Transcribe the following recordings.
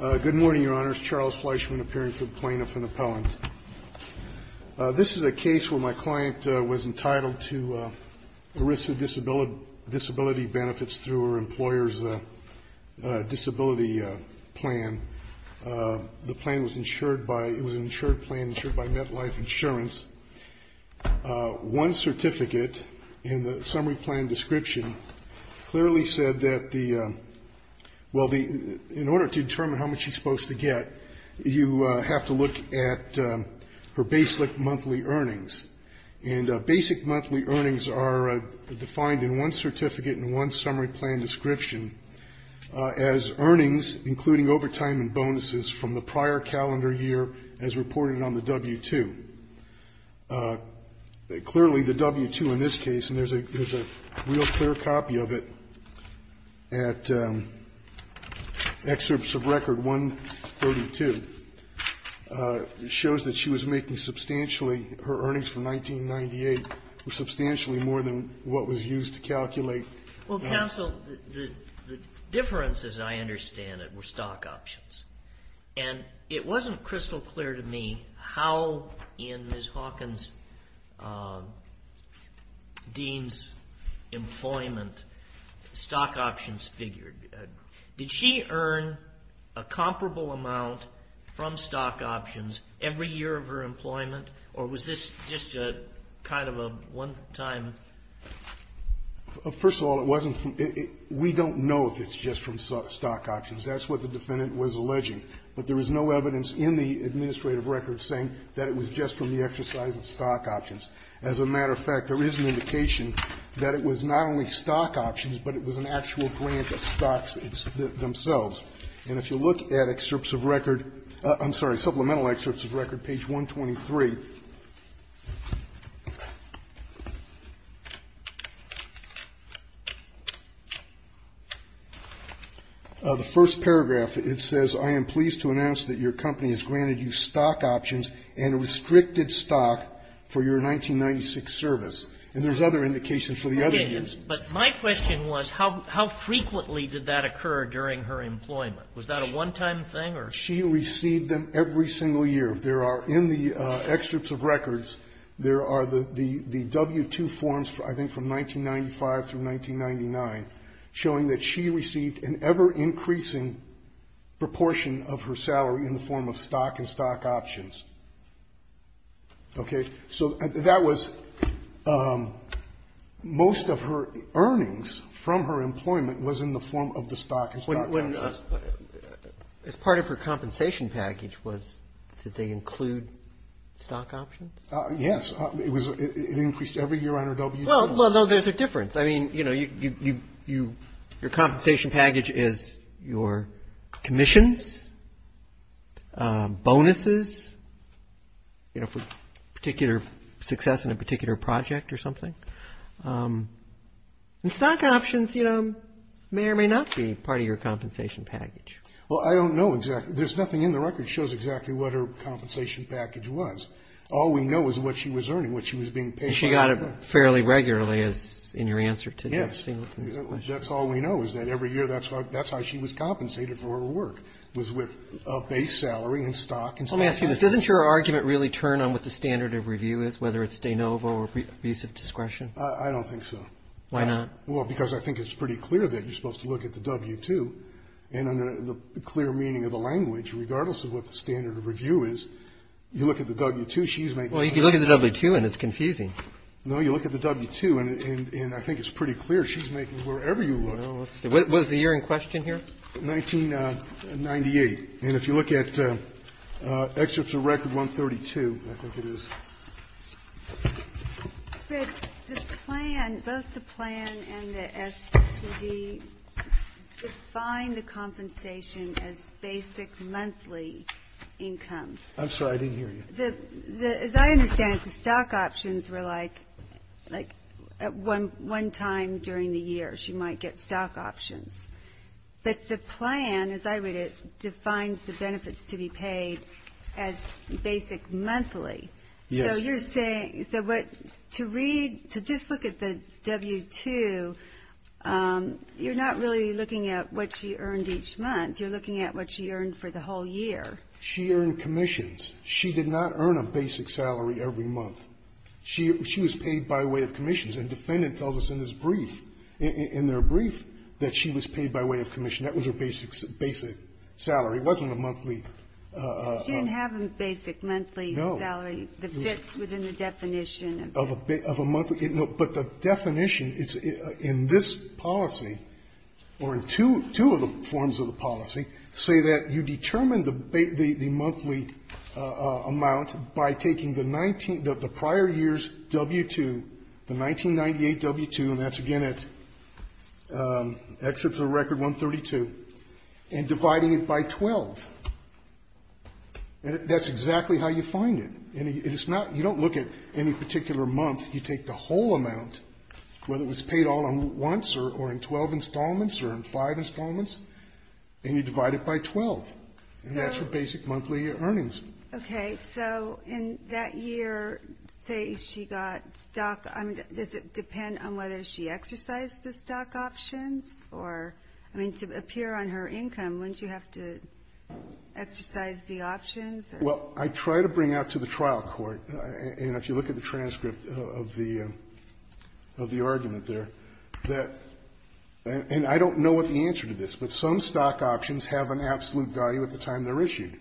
Good morning, Your Honors. Charles Fleischman, appearing for the Plaintiff and Appellant. This is a case where my client was entitled to a risk of disability benefits through her employer's disability plan. The plan was insured by Met Life Insurance. One certificate in the summary plan description clearly said that the, well, in order to determine how much she's supposed to get, you have to look at her basic monthly earnings. And basic monthly earnings are defined in one certificate and one summary plan description as earnings, including overtime and bonuses from the prior calendar year as reported on the W-2. Clearly, the W-2 in this case, and there's a real clear copy of it at Excerpts of Record 132, shows that she was making substantially her earnings from 1998, substantially more than what was used to calculate. Well, counsel, the difference, as I understand it, were stock options. And it wasn't crystal clear to me how in Ms. Hawkins-Dean's employment stock options figured. Did she earn a comparable amount from stock options every year of her employment, or was this just kind of a one-time? First of all, it wasn't from the we don't know if it's just from stock options. That's what the Defendant was alleging. But there was no evidence in the administrative record saying that it was just from the exercise of stock options. As a matter of fact, there is an indication that it was not only stock options, but it was an actual grant of stocks themselves. And if you look at Excerpts of Record — I'm sorry, Supplemental Excerpts of Record, page 123, the first paragraph, it says, I am pleased to announce that your company has granted you stock options and restricted stock for your 1996 service. And there's other indications for the other years. But my question was, how frequently did that occur during her employment? Was that a one-time thing, or? She received them every single year. There are, in the Excerpts of Records, there are the W-2 forms, I think, from 1995 through 1999, showing that she received an ever-increasing proportion of her salary in the form of stock and stock options. Okay? So that was most of her earnings from her employment was in the form of the stock and stock options. But as part of her compensation package, did they include stock options? Yes. It increased every year on her W-2. Well, no, there's a difference. I mean, you know, your compensation package is your commissions, bonuses, you know, for particular success in a particular project or something. And stock options, you know, may or may not be part of your compensation package. Well, I don't know exactly. There's nothing in the record that shows exactly what her compensation package was. All we know is what she was earning, what she was being paid for. And she got it fairly regularly, as in your answer to that Singleton's question. Yes. That's all we know, is that every year, that's how she was compensated for her work, was with a base salary in stock and stock options. Let me ask you this. Doesn't your argument really turn on what the standard of review is, whether it's de I don't think so. Why not? Well, because I think it's pretty clear that you're supposed to look at the W-2. And under the clear meaning of the language, regardless of what the standard of review is, you look at the W-2, she's making the W-2. Well, you can look at the W-2 and it's confusing. No. You look at the W-2, and I think it's pretty clear she's making wherever you look. Well, let's see. What is the year in question here? 1998. And if you look at excerpts of Record 132, I think it is. But the plan, both the plan and the STD, define the compensation as basic monthly income. I'm sorry, I didn't hear you. As I understand it, the stock options were like at one time during the year, she might get stock options. But the plan, as I read it, defines the benefits to be paid as basic monthly. Yes. So you're saying, so what, to read, to just look at the W-2, you're not really looking at what she earned each month. You're looking at what she earned for the whole year. She earned commissions. She did not earn a basic salary every month. She was paid by way of commissions. And defendant tells us in this brief, in their brief, that she was paid by way of commission. That was her basic salary. It wasn't a monthly. She didn't have a basic monthly salary. No. The fits within the definition of a monthly. But the definition in this policy, or in two of the forms of the policy, say that you determine the monthly amount by taking the prior year's W-2, the 1998 W-2, and that's again at excerpts of Record 132, and dividing it by 12. And that's exactly how you find it. And it's not, you don't look at any particular month. You take the whole amount, whether it was paid all at once or in 12 installments or in five installments, and you divide it by 12. And that's her basic monthly earnings. Okay. So in that year, say she got stock, I mean, does it depend on whether she exercised the stock options? Or, I mean, to appear on her income, wouldn't you have to exercise the options? Well, I try to bring out to the trial court, and if you look at the transcript of the argument there, that and I don't know what the answer to this, but some stock options have an absolute value at the time they're issued.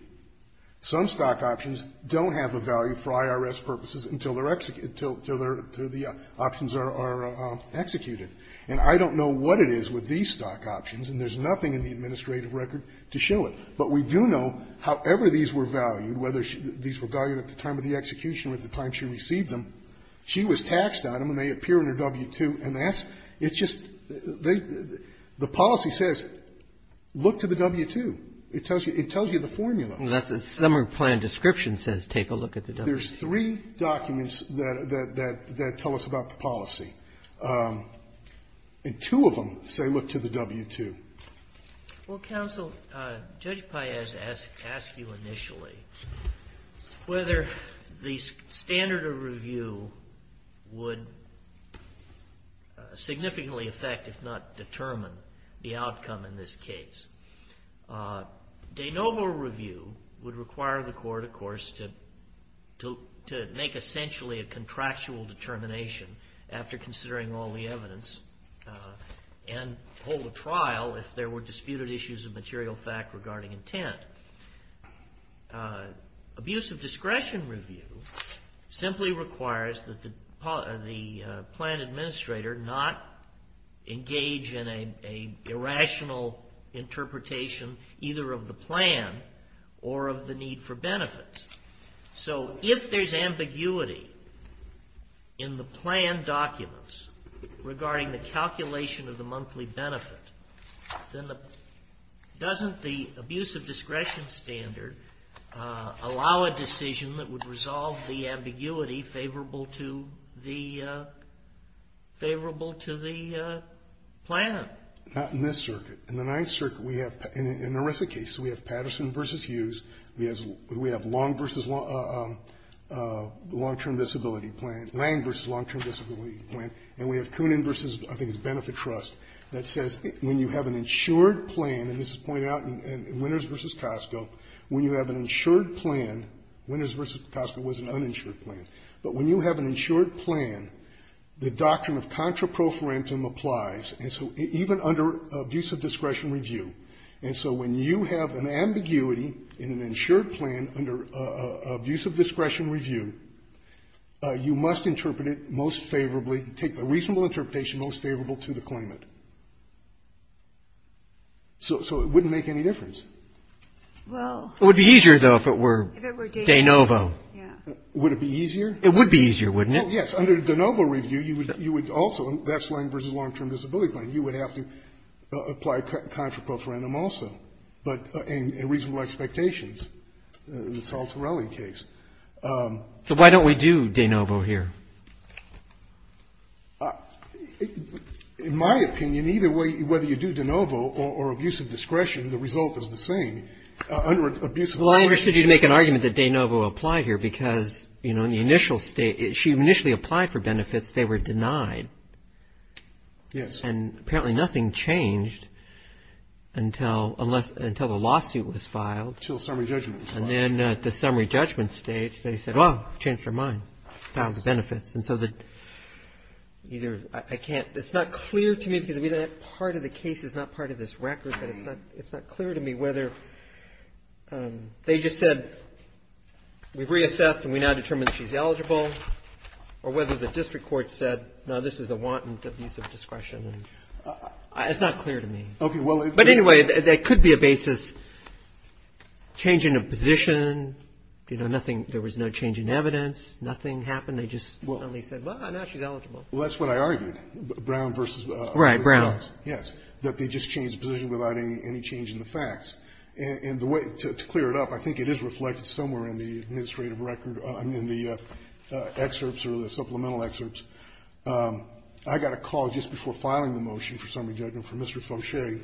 Some stock options don't have a value for IRS purposes until they're executed until they're, until the options are executed. And I don't know what it is with these stock options, and there's nothing in the administrative record to show it. But we do know, however these were valued, whether these were valued at the time of the execution or at the time she received them, she was taxed on them, and they appear in her W-2. And that's, it's just, they, the policy says look to the W-2. It tells you, it tells you the formula. Well, that's the summary plan description says take a look at the W-2. There's three documents that, that, that tell us about the policy. And two of them say look to the W-2. Well, counsel, Judge Paez asked you initially whether the standard of review would significantly affect, if not determine, the outcome in this case. De novo review would require the court, of course, to, to, to make essentially a contractual determination after considering all the evidence, and hold a trial if there were disputed issues of material fact regarding intent. Abusive discretion review simply requires that the, the plan administrator not engage in a, a irrational interpretation either of the plan or of the need for benefits. So if there's ambiguity in the plan documents regarding the calculation of the monthly benefit, then the, doesn't the abusive discretion standard allow a decision that would resolve the ambiguity favorable to the, favorable to the plan? Not in this circuit. In the Ninth Circuit, we have, in a RISA case, we have Patterson v. Hughes. We have, we have Long v. Long, Long-Term Disability Plan, Lang v. Long-Term Disability Plan. And we have Coonan v. I think it's Benefit Trust, that says when you have an insured plan, and this is pointed out in Winners v. Costco, when you have an insured plan, Winners v. Costco was an uninsured plan, but when you have an insured plan, the doctrine of contraprofarentum applies. And so even under abusive discretion review. And so when you have an ambiguity in an insured plan under abusive discretion review, you must interpret it most favorably, take a reasonable interpretation most favorable to the claimant. So, so it wouldn't make any difference. Well. It would be easier, though, if it were. If it were de novo. De novo. Yeah. Would it be easier? It would be easier, wouldn't it? Well, yes. Under de novo review, you would, you would also, that's Lang v. Long-Term Disability Plan. You would have to apply contraprofarentum also. But in reasonable expectations, the Saltarelli case. So why don't we do de novo here? In my opinion, either way, whether you do de novo or abusive discretion, the result is the same. Under abusive discretion. Well, I understood you to make an argument that de novo applied here because, you know, in the initial state, she initially applied for benefits. They were denied. Yes. And apparently nothing changed until, unless, until the lawsuit was filed. Until summary judgment was filed. And then at the summary judgment stage, they said, well, changed her mind. Filed the benefits. And so the, either, I can't, it's not clear to me because, I mean, that part of the case is not part of this record. But it's not, it's not clear to me whether, they just said, we've reassessed and we now determine she's eligible. Or whether the district court said, no, this is a wanton abuse of discretion. It's not clear to me. Okay, well. But anyway, there could be a basis, change in a position. You know, nothing, there was no change in evidence. Nothing happened. They just suddenly said, well, now she's eligible. Well, that's what I argued. Brown versus. Right, Brown. Yes. That they just changed the position without any change in the facts. And the way to clear it up, I think it is reflected somewhere in the administrative record, in the excerpts or the supplemental excerpts. I got a call just before filing the motion for summary judgment from Mr. Foshay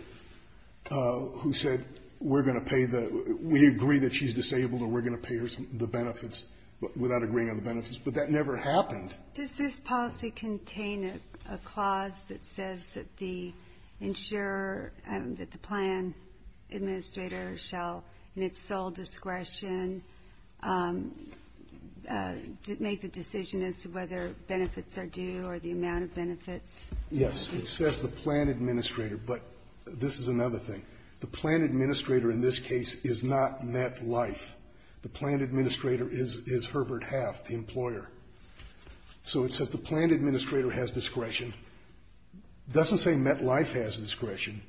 who said, we're going to pay the, we agree that she's disabled or we're going to pay her the benefits without agreeing on the benefits. But that never happened. Does this policy contain a clause that says that the insurer, that the plan administrator shall in its sole discretion make the decision as to whether benefits are due or the amount of benefits? Yes. It says the plan administrator. But this is another thing. The plan administrator in this case is not MetLife. The plan administrator is Herbert Half, the employer. So it says the plan administrator has discretion. It doesn't say MetLife has discretion.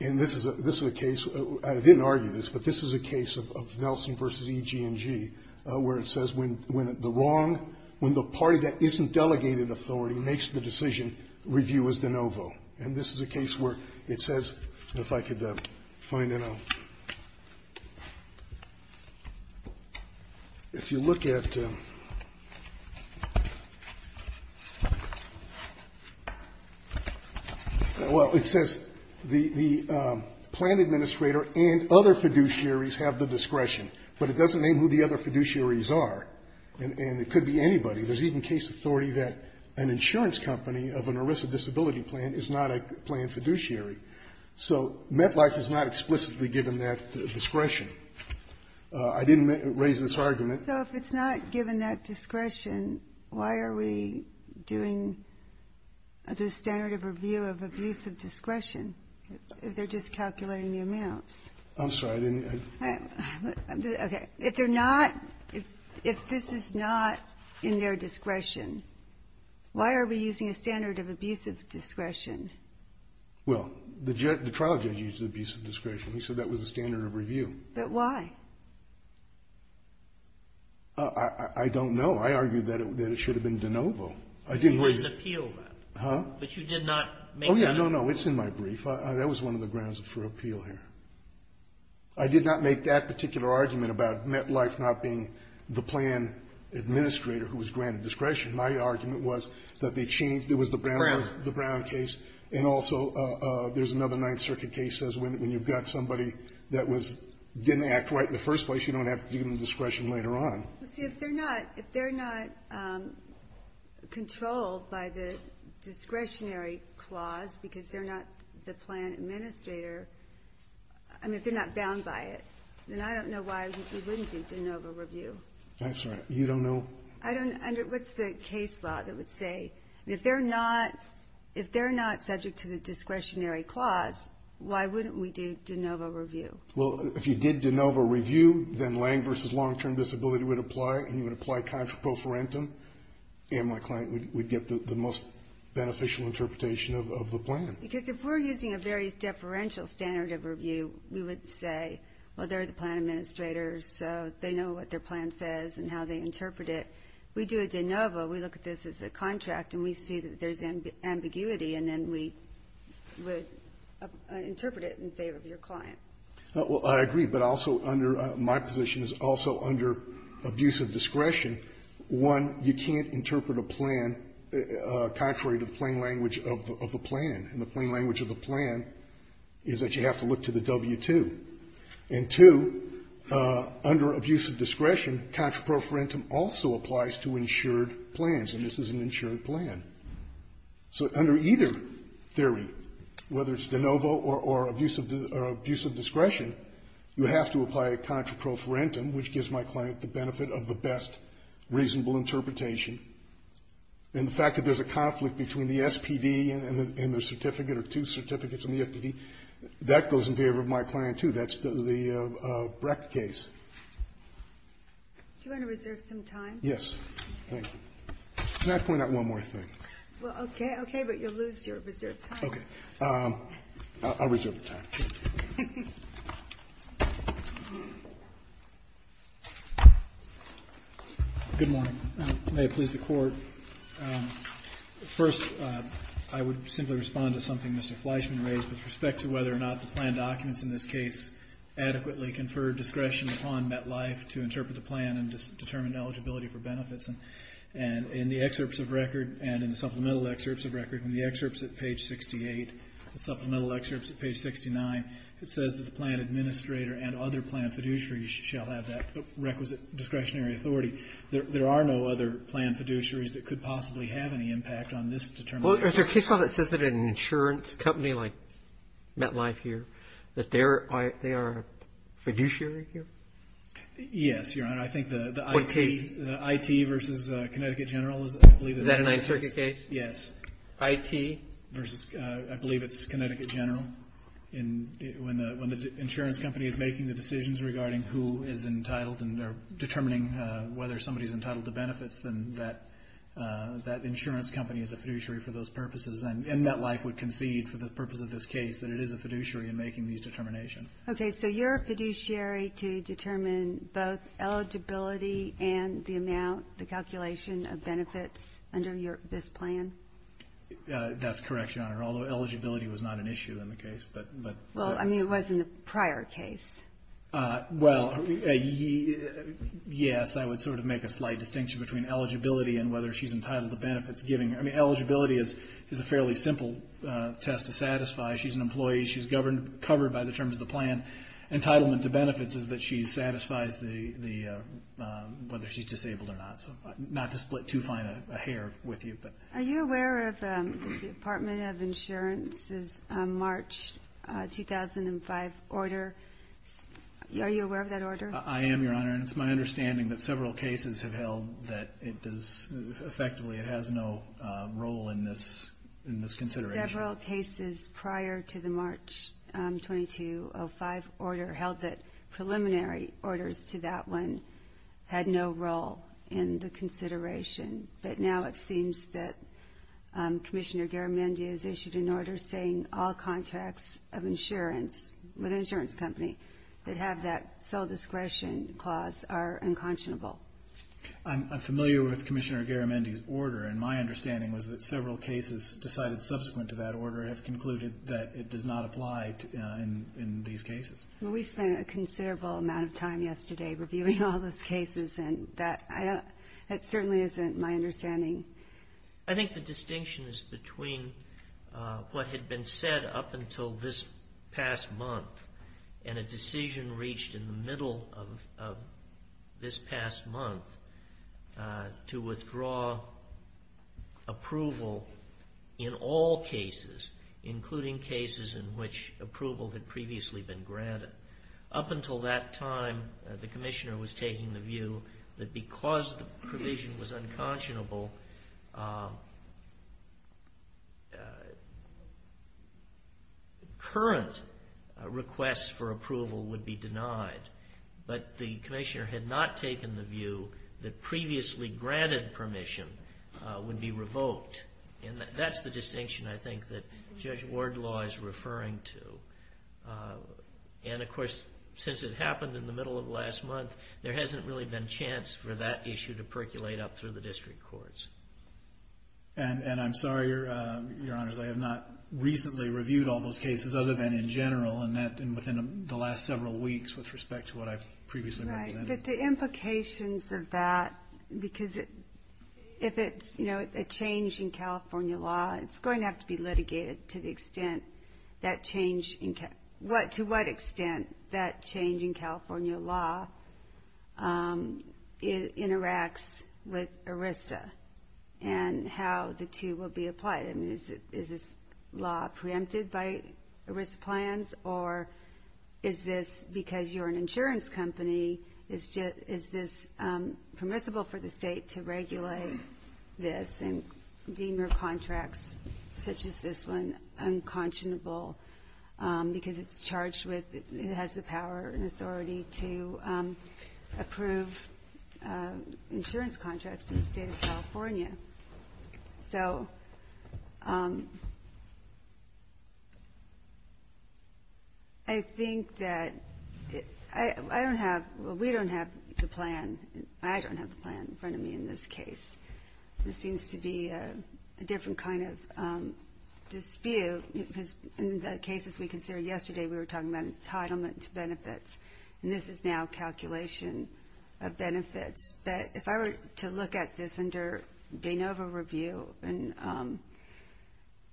And this is a case, I didn't argue this, but this is a case of Nelson v. EG&G where it says when the wrong, when the party that isn't delegated authority makes the decision, review is de novo. And this is a case where it says, if I could find it, if you look at, well, it says the plan administrator and other fiduciaries have the discretion. But it doesn't name who the other fiduciaries are. And it could be anybody. There's even case authority that an insurance company of an ARISA disability plan is not a plan fiduciary. So MetLife is not explicitly given that discretion. I didn't raise this argument. So if it's not given that discretion, why are we doing the standard of review of abuse of discretion? If they're just calculating the amounts? I'm sorry, I didn't. Okay. If they're not, if this is not in their discretion, why are we using a standard of abuse of discretion? Well, the trial judge used abuse of discretion. He said that was a standard of review. But why? I don't know. I argue that it should have been de novo. I didn't raise it. But you didn't appeal that. Huh? But you did not make that. Oh, yeah. No, no. It's in my brief. That was one of the grounds for appeal here. I did not make that particular argument about MetLife not being the plan administrator who was granted discretion. My argument was that they changed. It was the Brown case. And also there's another Ninth Circuit case that says when you've got somebody that was, didn't act right in the first place, you don't have to give them discretion later on. Well, see, if they're not, if they're not controlled by the discretionary clause because they're not the plan administrator, I mean, if they're not bound by it, then I don't know why we wouldn't do de novo review. That's right. You don't know? I don't know. What's the case law that would say if they're not, if they're not subject to the discretionary clause, why wouldn't we do de novo review? Well, if you did de novo review, then lang versus long-term disability would apply, and you would apply contra pro forentum, and my client would get the most beneficial interpretation of the plan. Because if we're using a various deferential standard of review, we would say, well, they're the plan administrators, so they know what their plan says and how they interpret it. We do a de novo. We look at this as a contract, and we see that there's ambiguity, and then we would interpret it in favor of your client. Well, I agree. But also under my position is also under abusive discretion. One, you can't interpret a plan contrary to the plain language of the plan. And the plain language of the plan is that you have to look to the W-2. And two, under abusive discretion, contra pro forentum also applies to insured plans, and this is an insured plan. So under either theory, whether it's de novo or abusive discretion, you have to apply a contra pro forentum, which gives my client the benefit of the best reasonable interpretation. And the fact that there's a conflict between the SPD and the certificate or two certificates on the SPD, that goes in favor of my client, too. That's the Brecht case. Ginsburg. Do you want to reserve some time? Yes. Thank you. Can I point out one more thing? Well, okay. Okay. But you'll lose your reserved time. Okay. I'll reserve the time. Good morning. May it please the Court. First, I would simply respond to something Mr. Fleischman raised with respect to whether or not the plan documents in this case adequately confer discretion upon MetLife to interpret the plan and determine eligibility for benefits. And in the excerpts of record and in the supplemental excerpts of record, in the excerpts at page 68, the supplemental excerpts at page 69, it says that the plan administrator and other plan fiduciaries shall have that requisite discretionary authority. There are no other plan fiduciaries that could possibly have any impact on this determination. Well, is there a case law that says that an insurance company like MetLife here, that they are a fiduciary here? Yes, Your Honor. I think the IT versus Connecticut General is, I believe. Is that a Ninth Circuit case? Yes. IT? Versus, I believe it's Connecticut General. When the insurance company is making the decisions regarding who is entitled and determining whether somebody is entitled to benefits, then that insurance company is a fiduciary for those purposes. And MetLife would concede for the purpose of this case that it is a fiduciary in making these determinations. Okay, so you're a fiduciary to determine both eligibility and the amount, the calculation of benefits under this plan? That's correct, Your Honor, although eligibility was not an issue in the case. Well, I mean, it was in the prior case. Well, yes, I would sort of make a slight distinction between eligibility and whether she's entitled to benefits. I mean, eligibility is a fairly simple test to satisfy. She's an employee. She's covered by the terms of the plan. Entitlement to benefits is that she satisfies whether she's disabled or not. So not to split too fine a hair with you. Are you aware of the Department of Insurance's March 2005 order? Are you aware of that order? I am, Your Honor, and it's my understanding that several cases have held that it effectively has no role in this consideration. Several cases prior to the March 2205 order held that preliminary orders to that one had no role in the consideration. But now it seems that Commissioner Garamendi has issued an order saying all contracts of insurance with an insurance company that have that sole discretion clause are unconscionable. I'm familiar with Commissioner Garamendi's order, and my understanding was that several cases decided subsequent to that order have concluded that it does not apply in these cases. Well, we spent a considerable amount of time yesterday reviewing all those cases, and that certainly isn't my understanding. I think the distinction is between what had been said up until this past month and a decision reached in the middle of this past month to withdraw approval in all cases, including cases in which approval had previously been granted. Up until that time, the Commissioner was taking the view that because the approval would be denied, but the Commissioner had not taken the view that previously granted permission would be revoked. And that's the distinction, I think, that Judge Wardlaw is referring to. And, of course, since it happened in the middle of last month, there hasn't really been chance for that issue to percolate up through the district courts. And I'm sorry, Your Honors, I have not recently reviewed all those cases other than in general and within the last several weeks with respect to what I've previously represented. Right. But the implications of that, because if it's a change in California law, it's going to have to be litigated to the extent that change in California law interacts with ERISA and how the two will be applied. I mean, is this law preempted by ERISA plans, or is this because you're an insurance company, is this permissible for the state to regulate this and deem your contracts, such as this one, unconscionable because it's charged with, it has the power and authority to approve insurance contracts in the state of California. So I think that I don't have, we don't have the plan, I don't have the plan in front of me in this case. This seems to be a different kind of dispute, because in the cases we considered yesterday, we were talking about entitlement to benefits, and this is now calculation of benefits. But if I were to look at this under de novo review,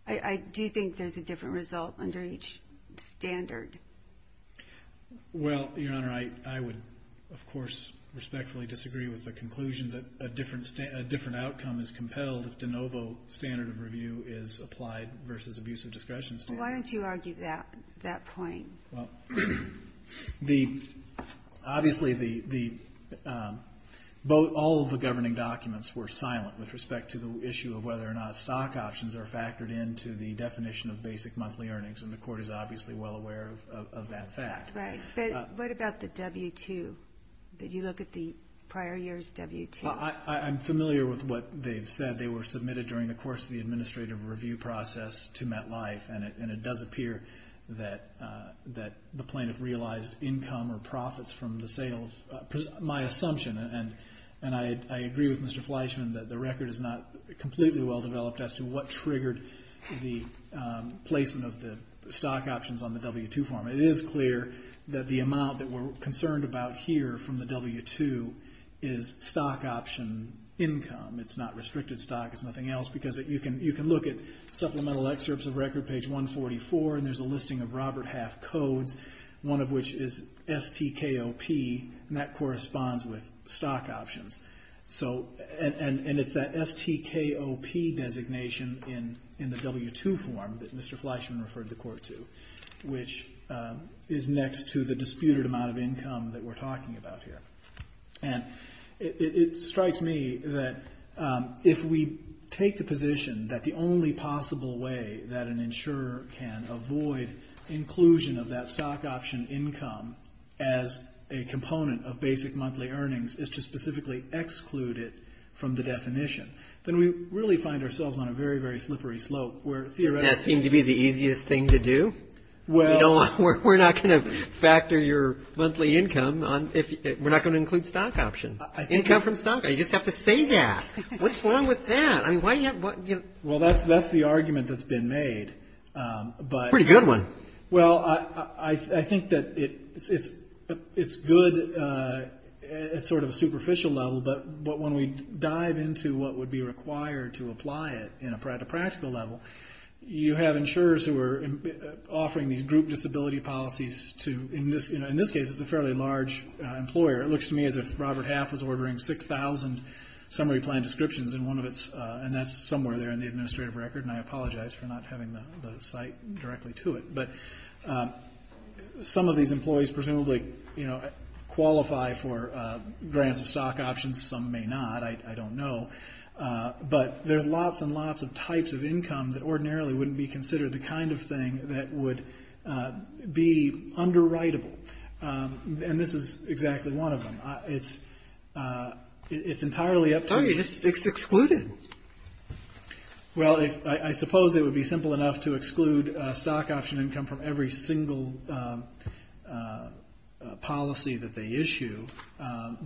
I do think there's a different result under each standard. Well, Your Honor, I would, of course, respectfully disagree with the conclusion that a different outcome is compelled if de novo standard of review is applied versus abusive discretion standard. Why don't you argue that point? Well, the, obviously the, all of the governing documents were silent with respect to the issue of whether or not stock options are factored into the definition of basic monthly earnings, and the Court is obviously well aware of that fact. Right. But what about the W-2? Did you look at the prior year's W-2? Well, I'm familiar with what they've said. They were submitted during the course of the administrative review process to MetLife, and it does appear that the plaintiff realized income or profits from the sale of, my assumption, and I agree with Mr. Fleischman that the record is not completely well developed as to what triggered the placement of the stock options on the W-2 form. It is clear that the amount that we're concerned about here from the W-2 is stock option income. It's not restricted stock. It's nothing else because you can look at supplemental excerpts of record, page 144, and there's a listing of Robert Half Codes, one of which is STKOP, and that corresponds with stock options. So, and it's that STKOP designation in the W-2 form that Mr. Fleischman referred the Court to, which is next to the disputed amount of income that we're talking about here. And it strikes me that if we take the position that the only possible way that an insurer can avoid inclusion of that stock option income as a component of basic monthly earnings is to specifically exclude it from the definition, then we really find ourselves on a very, very slippery slope where theoretically. Doesn't that seem to be the easiest thing to do? We're not going to factor your monthly income. We're not going to include stock option, income from stock. You just have to say that. What's wrong with that? I mean, why do you have to? Well, that's the argument that's been made. Pretty good one. Well, I think that it's good at sort of a superficial level, but when we dive into what would be required to apply it at a practical level, you have insurers who are offering these group disability policies to, in this case, it's a fairly large employer. It looks to me as if Robert Half was ordering 6,000 summary plan descriptions, and that's somewhere there in the administrative record, and I apologize for not having the site directly to it. But some of these employees presumably qualify for grants of stock options. Some may not. I don't know. But there's lots and lots of types of income that ordinarily wouldn't be considered the kind of thing that would be underwritable, and this is exactly one of them. It's entirely up to you. It's excluded. Well, I suppose it would be simple enough to exclude stock option, income from every single policy that they issue. Well,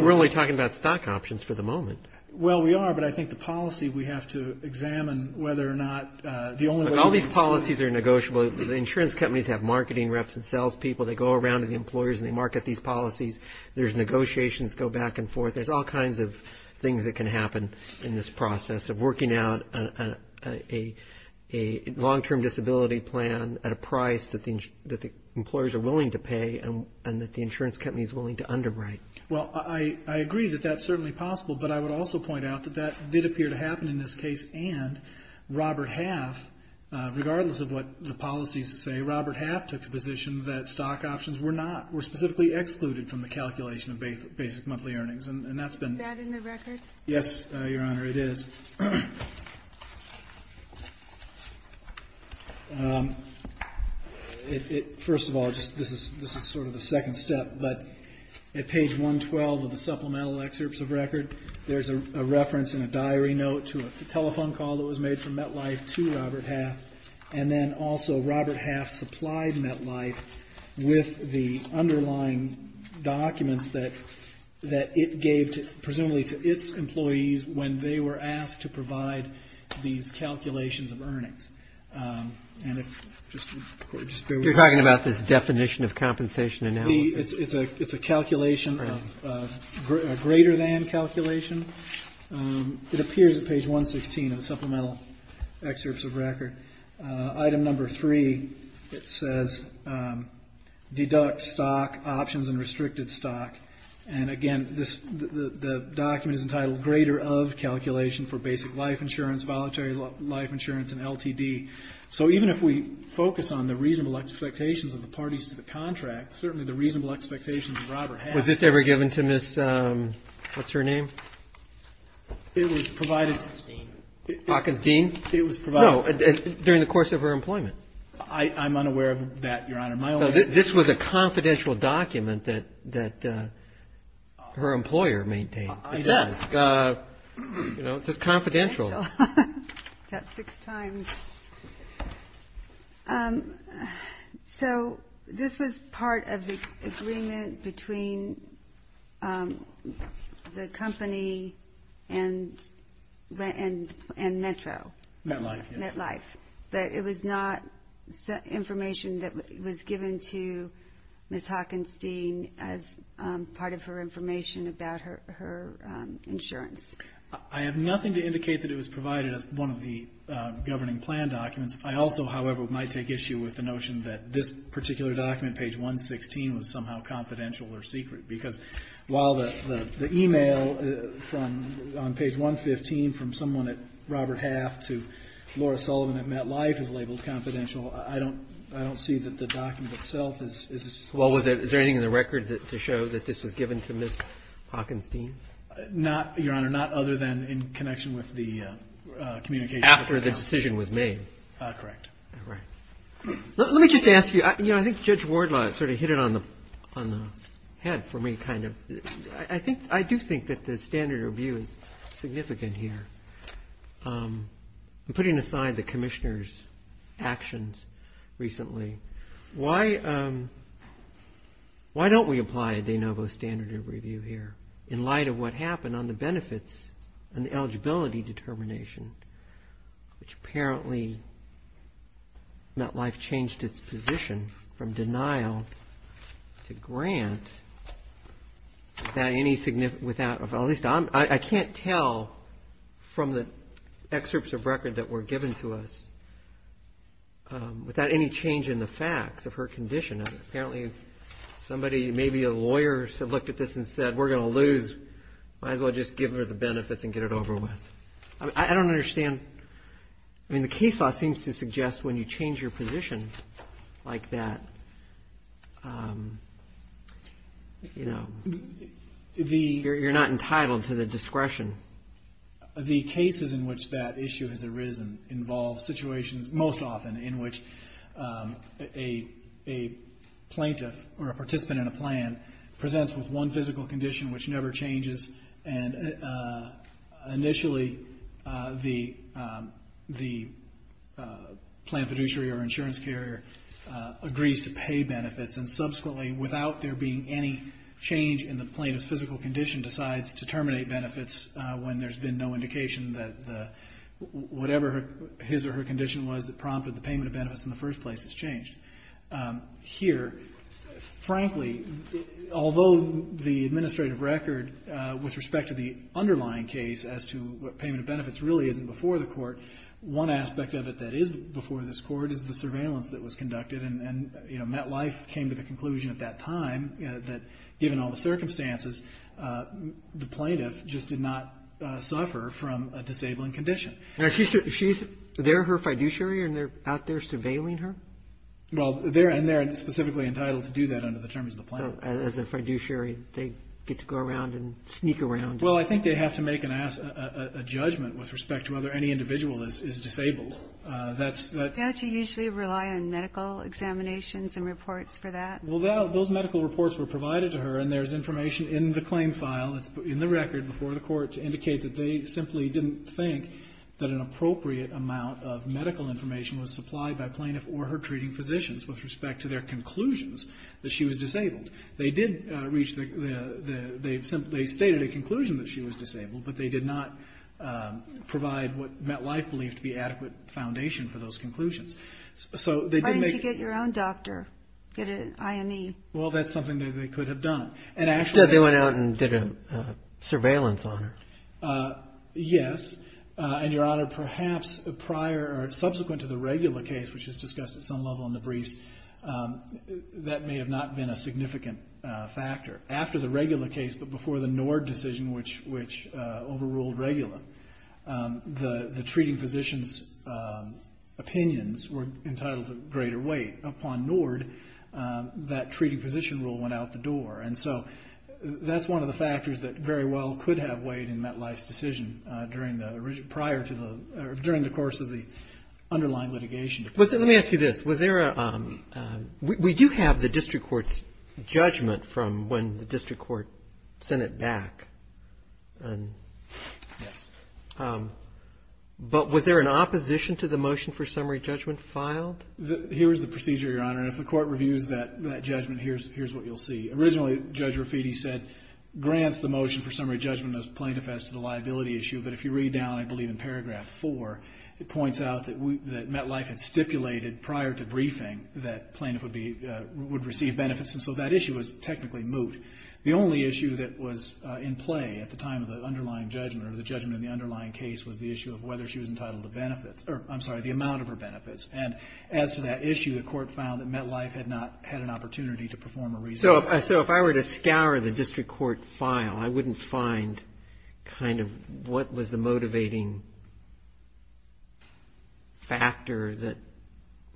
we're only talking about stock options for the moment. Well, we are, but I think the policy we have to examine whether or not the only way. All these policies are negotiable. The insurance companies have marketing reps and sales people. They go around to the employers and they market these policies. There's negotiations, go back and forth. There's all kinds of things that can happen in this process of working out a long-term disability plan at a price that the employers are willing to pay and that the insurance company is willing to underwrite. Well, I agree that that's certainly possible, but I would also point out that that did appear to happen in this case and Robert Half, regardless of what the policies say, Robert Half took the position that stock options were not, were specifically excluded from the calculation of basic monthly earnings, and that's been. Is that in the record? Yes, Your Honor, it is. First of all, this is sort of the second step, but at page 112 of the supplemental excerpts of record, there's a reference in a diary note to a telephone call that was made from MetLife to Robert Half, and then also Robert Half supplied MetLife with the underlying documents that it gave, presumably to its employees when they were asked to provide these calculations of earnings. And if, just bear with me. You're talking about this definition of compensation analysis? It's a calculation of, a greater than calculation. It appears at page 116 of the supplemental excerpts of record. Item number three, it says, deduct stock options and restricted stock. And again, this, the document is entitled greater of calculation for basic life insurance, voluntary life insurance, and LTD. So even if we focus on the reasonable expectations of the parties to the contract, certainly the reasonable expectations of Robert Half. Was this ever given to Miss, what's her name? It was provided. Hawkins-Dean. Hawkins-Dean? It was provided. No, during the course of her employment. I'm unaware of that, Your Honor. This was a confidential document that her employer maintained. It says confidential. Confidential, about six times. So this was part of the agreement between the company and Metro. MetLife. MetLife. But it was not information that was given to Miss Hawkins-Dean as part of her information about her insurance. I have nothing to indicate that it was provided as one of the governing plan documents. I also, however, might take issue with the notion that this particular document, page 116, was somehow confidential or secret. Because while the e-mail on page 115 from someone at Robert Half to Laura Sullivan at MetLife is labeled confidential, I don't see that the document itself is. Well, is there anything in the record to show that this was given to Miss Hawkins-Dean? Not, Your Honor, not other than in connection with the communication. After the decision was made. Correct. All right. Let me just ask you, you know, I think Judge Wardlaw sort of hit it on the head for me, kind of. I do think that the standard of review is significant here. I'm putting aside the commissioner's actions recently. Why don't we apply a de novo standard of review here in light of what happened on the benefits and the eligibility determination, which apparently MetLife changed its position from denial to grant without any significant, without at least, I can't tell from the excerpts of record that were given to us without any change in the facts of her condition. Apparently somebody, maybe a lawyer, looked at this and said, we're going to lose. Might as well just give her the benefits and get it over with. I don't understand. I mean, the case law seems to suggest when you change your position like that, you know, you're not entitled to the discretion. The cases in which that issue has arisen involve situations, most often, in which a plaintiff or a participant in a plan presents with one physical condition which never changes, and initially the plan fiduciary or insurance carrier agrees to pay benefits, and subsequently without there being any change in the plaintiff's physical condition decides to terminate benefits when there's been no indication that whatever his or her condition was that prompted the payment of benefits in the first place has changed. Here, frankly, although the administrative record with respect to the underlying case as to what payment of benefits really isn't before the court, one aspect of it that is before this court is the surveillance that was conducted. And, you know, MetLife came to the conclusion at that time that given all the circumstances, the plaintiff just did not suffer from a disabling condition. Now, is there her fiduciary and they're out there surveilling her? Well, and they're specifically entitled to do that under the terms of the plaintiff. So as a fiduciary, they get to go around and sneak around. Well, I think they have to make a judgment with respect to whether any individual is disabled. Don't you usually rely on medical examinations and reports for that? Well, those medical reports were provided to her, and there's information in the claim file. It's in the record before the court to indicate that they simply didn't think that an appropriate amount of medical information was supplied by plaintiff or her treating physicians with respect to their conclusions that she was disabled. They did reach the – they stated a conclusion that she was disabled, but they did not provide what MetLife believed to be adequate foundation for those conclusions. So they did make – Why didn't you get your own doctor, get an IME? Well, that's something that they could have done. And actually – So they went out and did a surveillance on her? Yes. And, Your Honor, perhaps prior or subsequent to the regular case, which is discussed at some level in the briefs, that may have not been a significant factor. After the regular case, but before the Nord decision, which overruled regular, the treating physician's opinions were entitled to greater weight. Upon Nord, that treating physician rule went out the door. And so that's one of the factors that very well could have weighed in MetLife's decision during the – prior to the – or during the course of the underlying litigation. Let me ask you this. Was there a – we do have the district court's judgment from when the district court sent it back. Yes. But was there an opposition to the motion for summary judgment filed? Here is the procedure, Your Honor. And if the court reviews that judgment, here's what you'll see. Originally, Judge Raffiti said, grants the motion for summary judgment as plaintiff as to the liability issue, but if you read down, I believe, in paragraph four, it points out that MetLife had stipulated prior to briefing that plaintiff would be – would receive benefits. And so that issue was technically moot. The only issue that was in play at the time of the underlying judgment, or the judgment in the underlying case, was the issue of whether she was entitled to benefits – or, I'm sorry, the amount of her benefits. And as to that issue, the court found that MetLife had not had an opportunity to perform a – So if I were to scour the district court file, I wouldn't find kind of what was the motivating factor that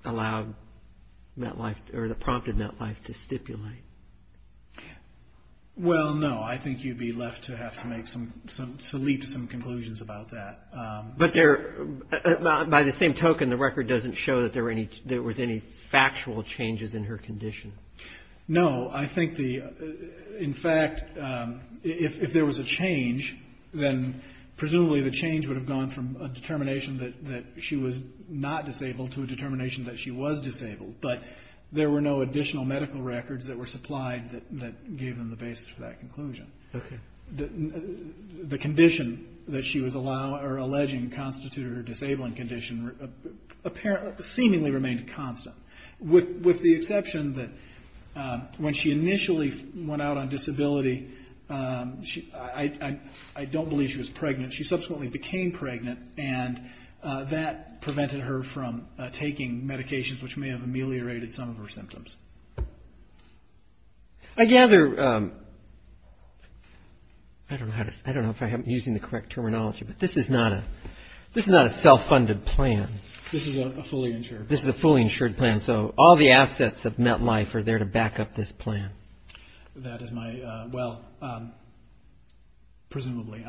allowed MetLife – or that prompted MetLife to stipulate. Well, no. I think you'd be left to have to make some – to leap to some conclusions about that. But there – by the same token, the record doesn't show that there were any – there was any factual changes in her condition. No. I think the – in fact, if there was a change, then presumably the change would have gone from a determination that she was not disabled to a determination that she was disabled. But there were no additional medical records that were supplied that gave them the basis for that conclusion. Okay. The condition that she was – or alleging constituted her disabling condition seemingly remained constant, with the exception that when she initially went out on disability, I don't believe she was pregnant. She subsequently became pregnant, and that prevented her from taking medications, which may have ameliorated some of her symptoms. I gather – I don't know how to – I don't know if I'm using the correct terminology, but this is not a – this is not a self-funded plan. This is a fully insured plan. And so all the assets of MetLife are there to back up this plan. That is my – well, presumably.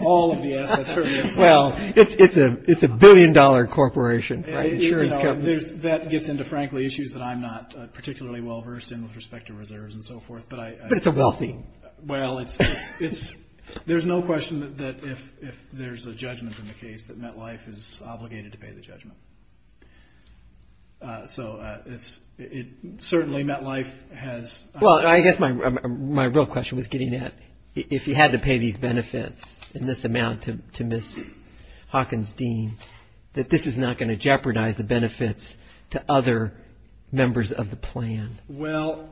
All of the assets are there. Well, it's a billion-dollar corporation, right? Insurance company. That gets into, frankly, issues that I'm not particularly well-versed in with respect to reserves and so forth. But it's a wealthy – Well, it's – there's no question that if there's a judgment in the case, that MetLife is obligated to pay the judgment. So it's – certainly MetLife has – Well, I guess my real question was getting at if you had to pay these benefits in this amount to Ms. Hockenstein, that this is not going to jeopardize the benefits to other members of the plan. Well,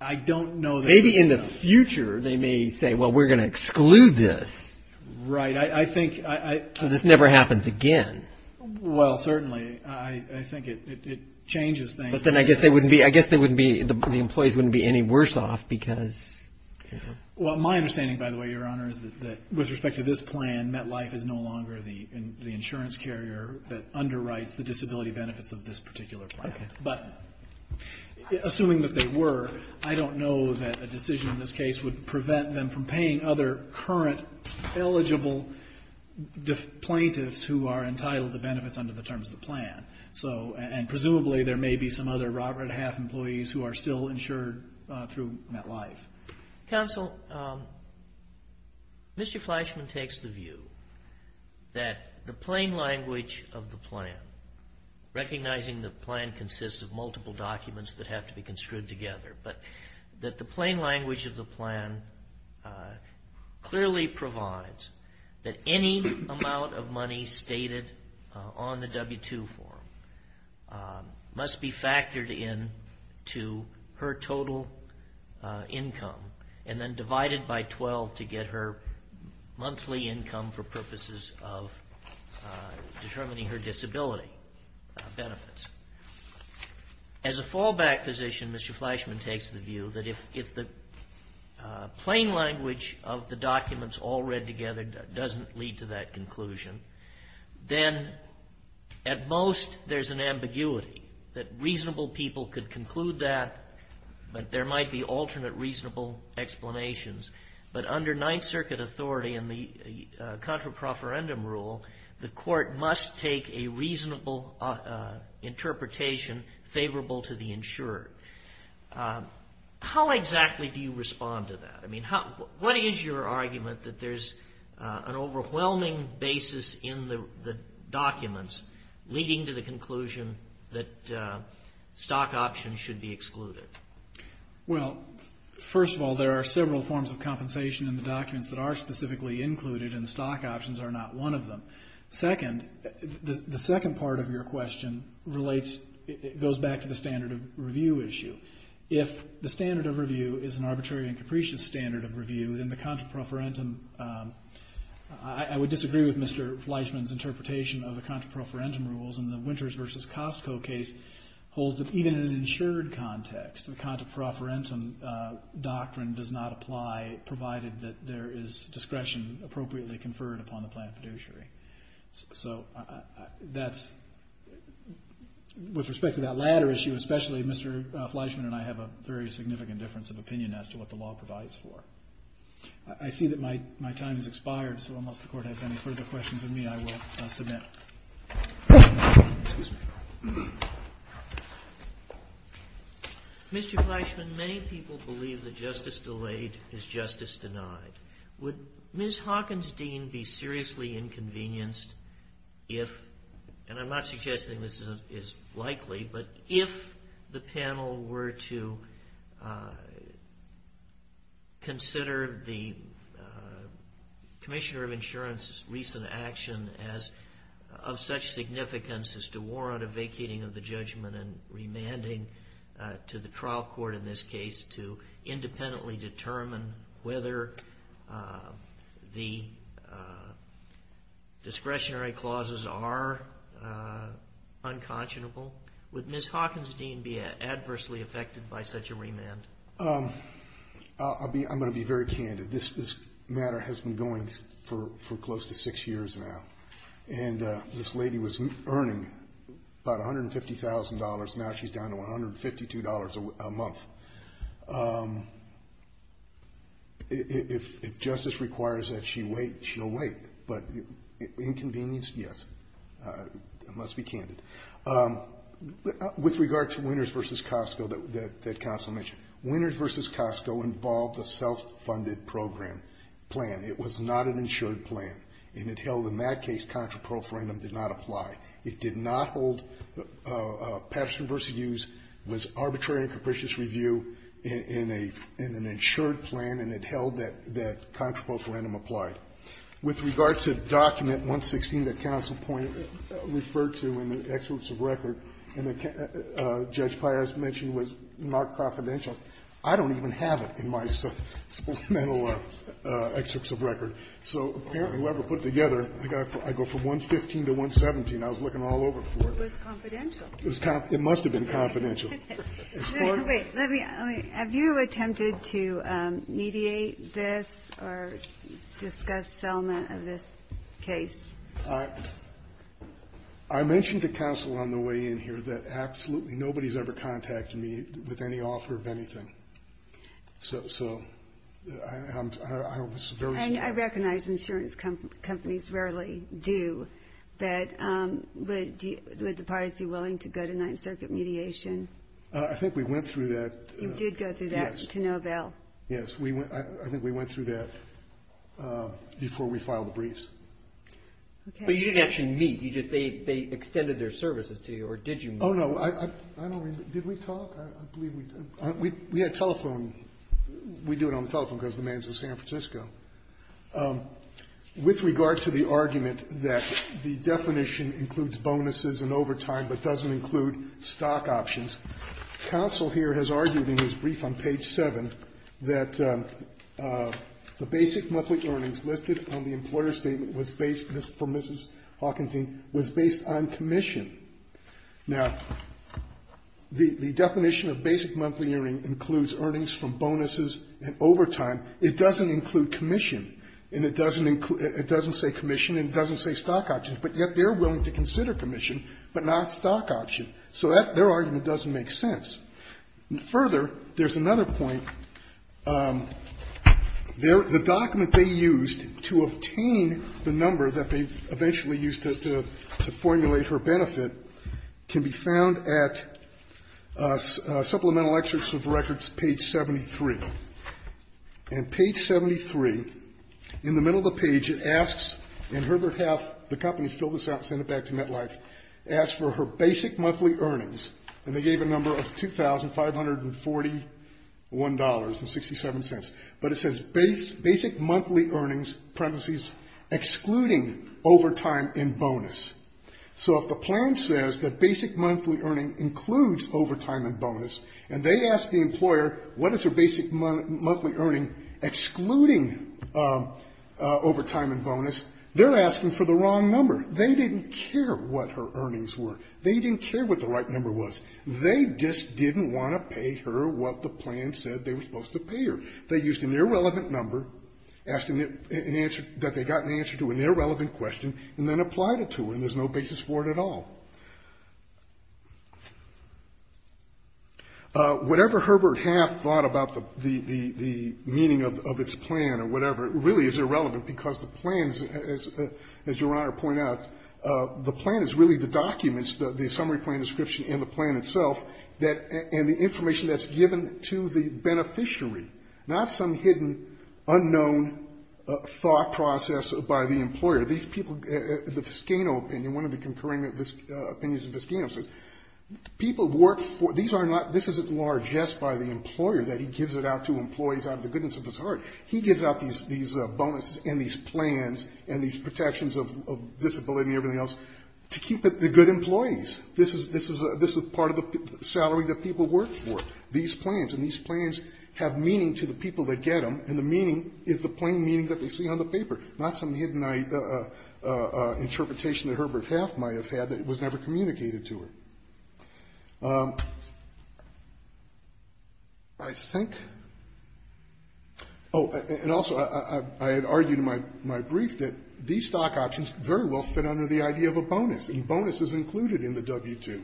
I don't know that – Maybe in the future they may say, well, we're going to exclude this. Right. I think – So this never happens again. Well, certainly. I think it changes things. But then I guess they wouldn't be – I guess they wouldn't be – the employees wouldn't be any worse off because – Well, my understanding, by the way, Your Honor, is that with respect to this plan, MetLife is no longer the insurance carrier that underwrites the disability benefits of this particular plan. Okay. But assuming that they were, I don't know that a decision in this case would prevent them from paying other current eligible plaintiffs who are entitled to benefits under the terms of the plan. And presumably there may be some other Robert Half employees who are still insured through MetLife. Counsel, Mr. Fleischman takes the view that the plain language of the plan, recognizing the plan consists of multiple documents that have to be construed together, but that the plain language of the plan clearly provides that any amount of money stated on the W-2 form must be factored in to her total income and then divided by 12 to get her monthly income for purposes of determining her disability benefits. As a fallback position, Mr. Fleischman takes the view that if the plain language of the documents all read together doesn't lead to that conclusion, then at most there's an ambiguity, that reasonable people could conclude that, but there might be alternate reasonable explanations. But under Ninth Circuit authority and the contra profferendum rule, the court must take a reasonable interpretation favorable to the insurer. How exactly do you respond to that? I mean, what is your argument that there's an overwhelming basis in the documents leading to the conclusion that stock options should be excluded? Well, first of all, there are several forms of compensation in the documents that are specifically included, and stock options are not one of them. Second, the second part of your question relates, goes back to the standard of review issue. If the standard of review is an arbitrary and capricious standard of review, then the contra profferendum, I would disagree with Mr. Fleischman's interpretation of the contra profferendum rules, and the Winters v. Costco case holds that even in an insured context, the contra profferendum doctrine does not apply, provided that there is discretion appropriately conferred upon the plain fiduciary. So that's, with respect to that latter issue, especially Mr. Fleischman and I have a very significant difference of opinion as to what the law provides for. I see that my time has expired, so unless the Court has any further questions of me, I will submit. Excuse me. Mr. Fleischman, many people believe that justice delayed is justice denied. Would Ms. Hawkins' dean be seriously inconvenienced if, and I'm not suggesting this is likely, but if the panel were to consider the Commissioner of Insurance's recent action of such significance as to warrant a vacating of the judgment and remanding to the trial court in this case to independently determine whether the discretionary clauses are unconscionable, would Ms. Hawkins' dean be adversely affected by such a remand? I'm going to be very candid. This matter has been going for close to six years now, and this lady was earning about $150,000. Now she's down to $152 a month. If justice requires that she wait, she'll wait, but inconvenience, yes. I must be candid. With regard to Winners v. Costco that Counsel mentioned, Winners v. Costco involved a self-funded program, plan. It was not an insured plan, and it held in that case contraproforandum did not apply. It did not hold Patterson v. Hughes was arbitrary and capricious review in an insured plan, and it held that contraproforandum applied. With regard to Document 116 that Counsel referred to in the excerpts of record, and that Judge Pires mentioned was not confidential, I don't even have it in my supplemental excerpts of record. So apparently, whoever put together, I go from 115 to 117. I was looking all over for it. It was confidential. It must have been confidential. Have you attempted to mediate this or discuss settlement of this case? I mentioned to Counsel on the way in here that absolutely nobody has ever contacted me with any offer of anything. So I was very. And I recognize insurance companies rarely do, but would the parties be willing to go to Ninth Circuit mediation? I think we went through that. You did go through that to Novell. Yes. I think we went through that before we filed the briefs. Okay. But you didn't actually meet. You just they extended their services to you, or did you meet? Oh, no. I don't remember. Did we talk? I believe we did. We had telephone. We do it on the telephone because the man's in San Francisco. With regard to the argument that the definition includes bonuses and overtime, but doesn't include stock options, Counsel here has argued in his brief on page 7 that the basic monthly earnings listed on the employer's statement was based on commission. Now, the definition of basic monthly earnings includes earnings from bonuses and overtime. It doesn't include commission. And it doesn't say commission and it doesn't say stock options. But yet they're willing to consider commission, but not stock option. So their argument doesn't make sense. Further, there's another point. The document they used to obtain the number that they eventually used to formulate her benefit can be found at Supplemental Excerpts of Records, page 73. And page 73, in the middle of the page, it asks, and Herbert Half, the company, filled this out and sent it back to MetLife, asked for her basic monthly earnings. And they gave a number of $2,541.67. But it says basic monthly earnings, parentheses, excluding overtime and bonus. So if the plan says that basic monthly earning includes overtime and bonus, and they ask the employer, what is her basic monthly earning excluding overtime and bonus, they're asking for the wrong number. They didn't care what her earnings were. They didn't care what the right number was. They just didn't want to pay her what the plan said they were supposed to pay her. They used an irrelevant number, asked an answer that they got an answer to an irrelevant question, and then applied it to her, and there's no basis for it at all. Whatever Herbert Half thought about the meaning of its plan or whatever really is irrelevant, because the plans, as Your Honor pointed out, the plan is really the documents, the summary plan description and the plan itself, and the information that's given to the beneficiary, not some hidden, unknown thought process by the employer. These people, the Viscano opinion, one of the concurring opinions of Viscano says people work for, these are not, this isn't largesse by the employer that he gives it out to employees out of the goodness of his heart. He gives out these bonuses and these plans and these protections of disability and everything else to keep the good employees. This is part of the salary that people work for. These plans, and these plans have meaning to the people that get them, and the meaning that they see on the paper, not some hidden interpretation that Herbert Half might have had that was never communicated to her. I think, oh, and also I had argued in my brief that these stock options very well fit under the idea of a bonus, and bonus is included in the W-2,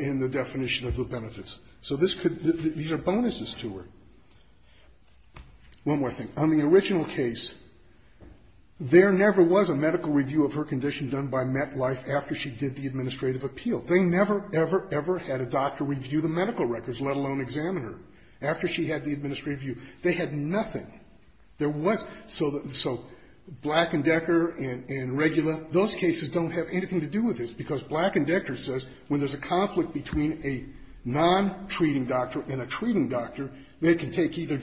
in the definition of the benefits. So this could, these are bonuses to her. One more thing. On the original case, there never was a medical review of her condition done by MetLife after she did the administrative appeal. They never, ever, ever had a doctor review the medical records, let alone examine her, after she had the administrative review. They had nothing. There was, so Black and Decker and Regula, those cases don't have anything to do with this, because Black and Decker says when there's a conflict between a non-treating doctor and a treating doctor, they can take either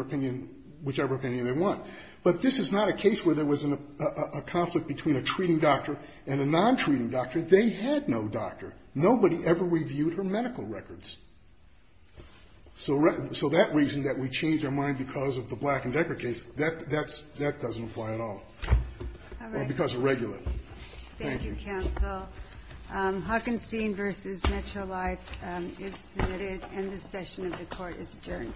opinion, whichever opinion they want. But this is not a case where there was a conflict between a treating doctor and a non-treating doctor. They had no doctor. Nobody ever reviewed her medical records. So that reason that we changed our mind because of the Black and Decker case, that doesn't apply at all because of Regula. Thank you. Thank you, counsel. Hockenstein v. Metrolife is submitted, and this session of the court is adjourned.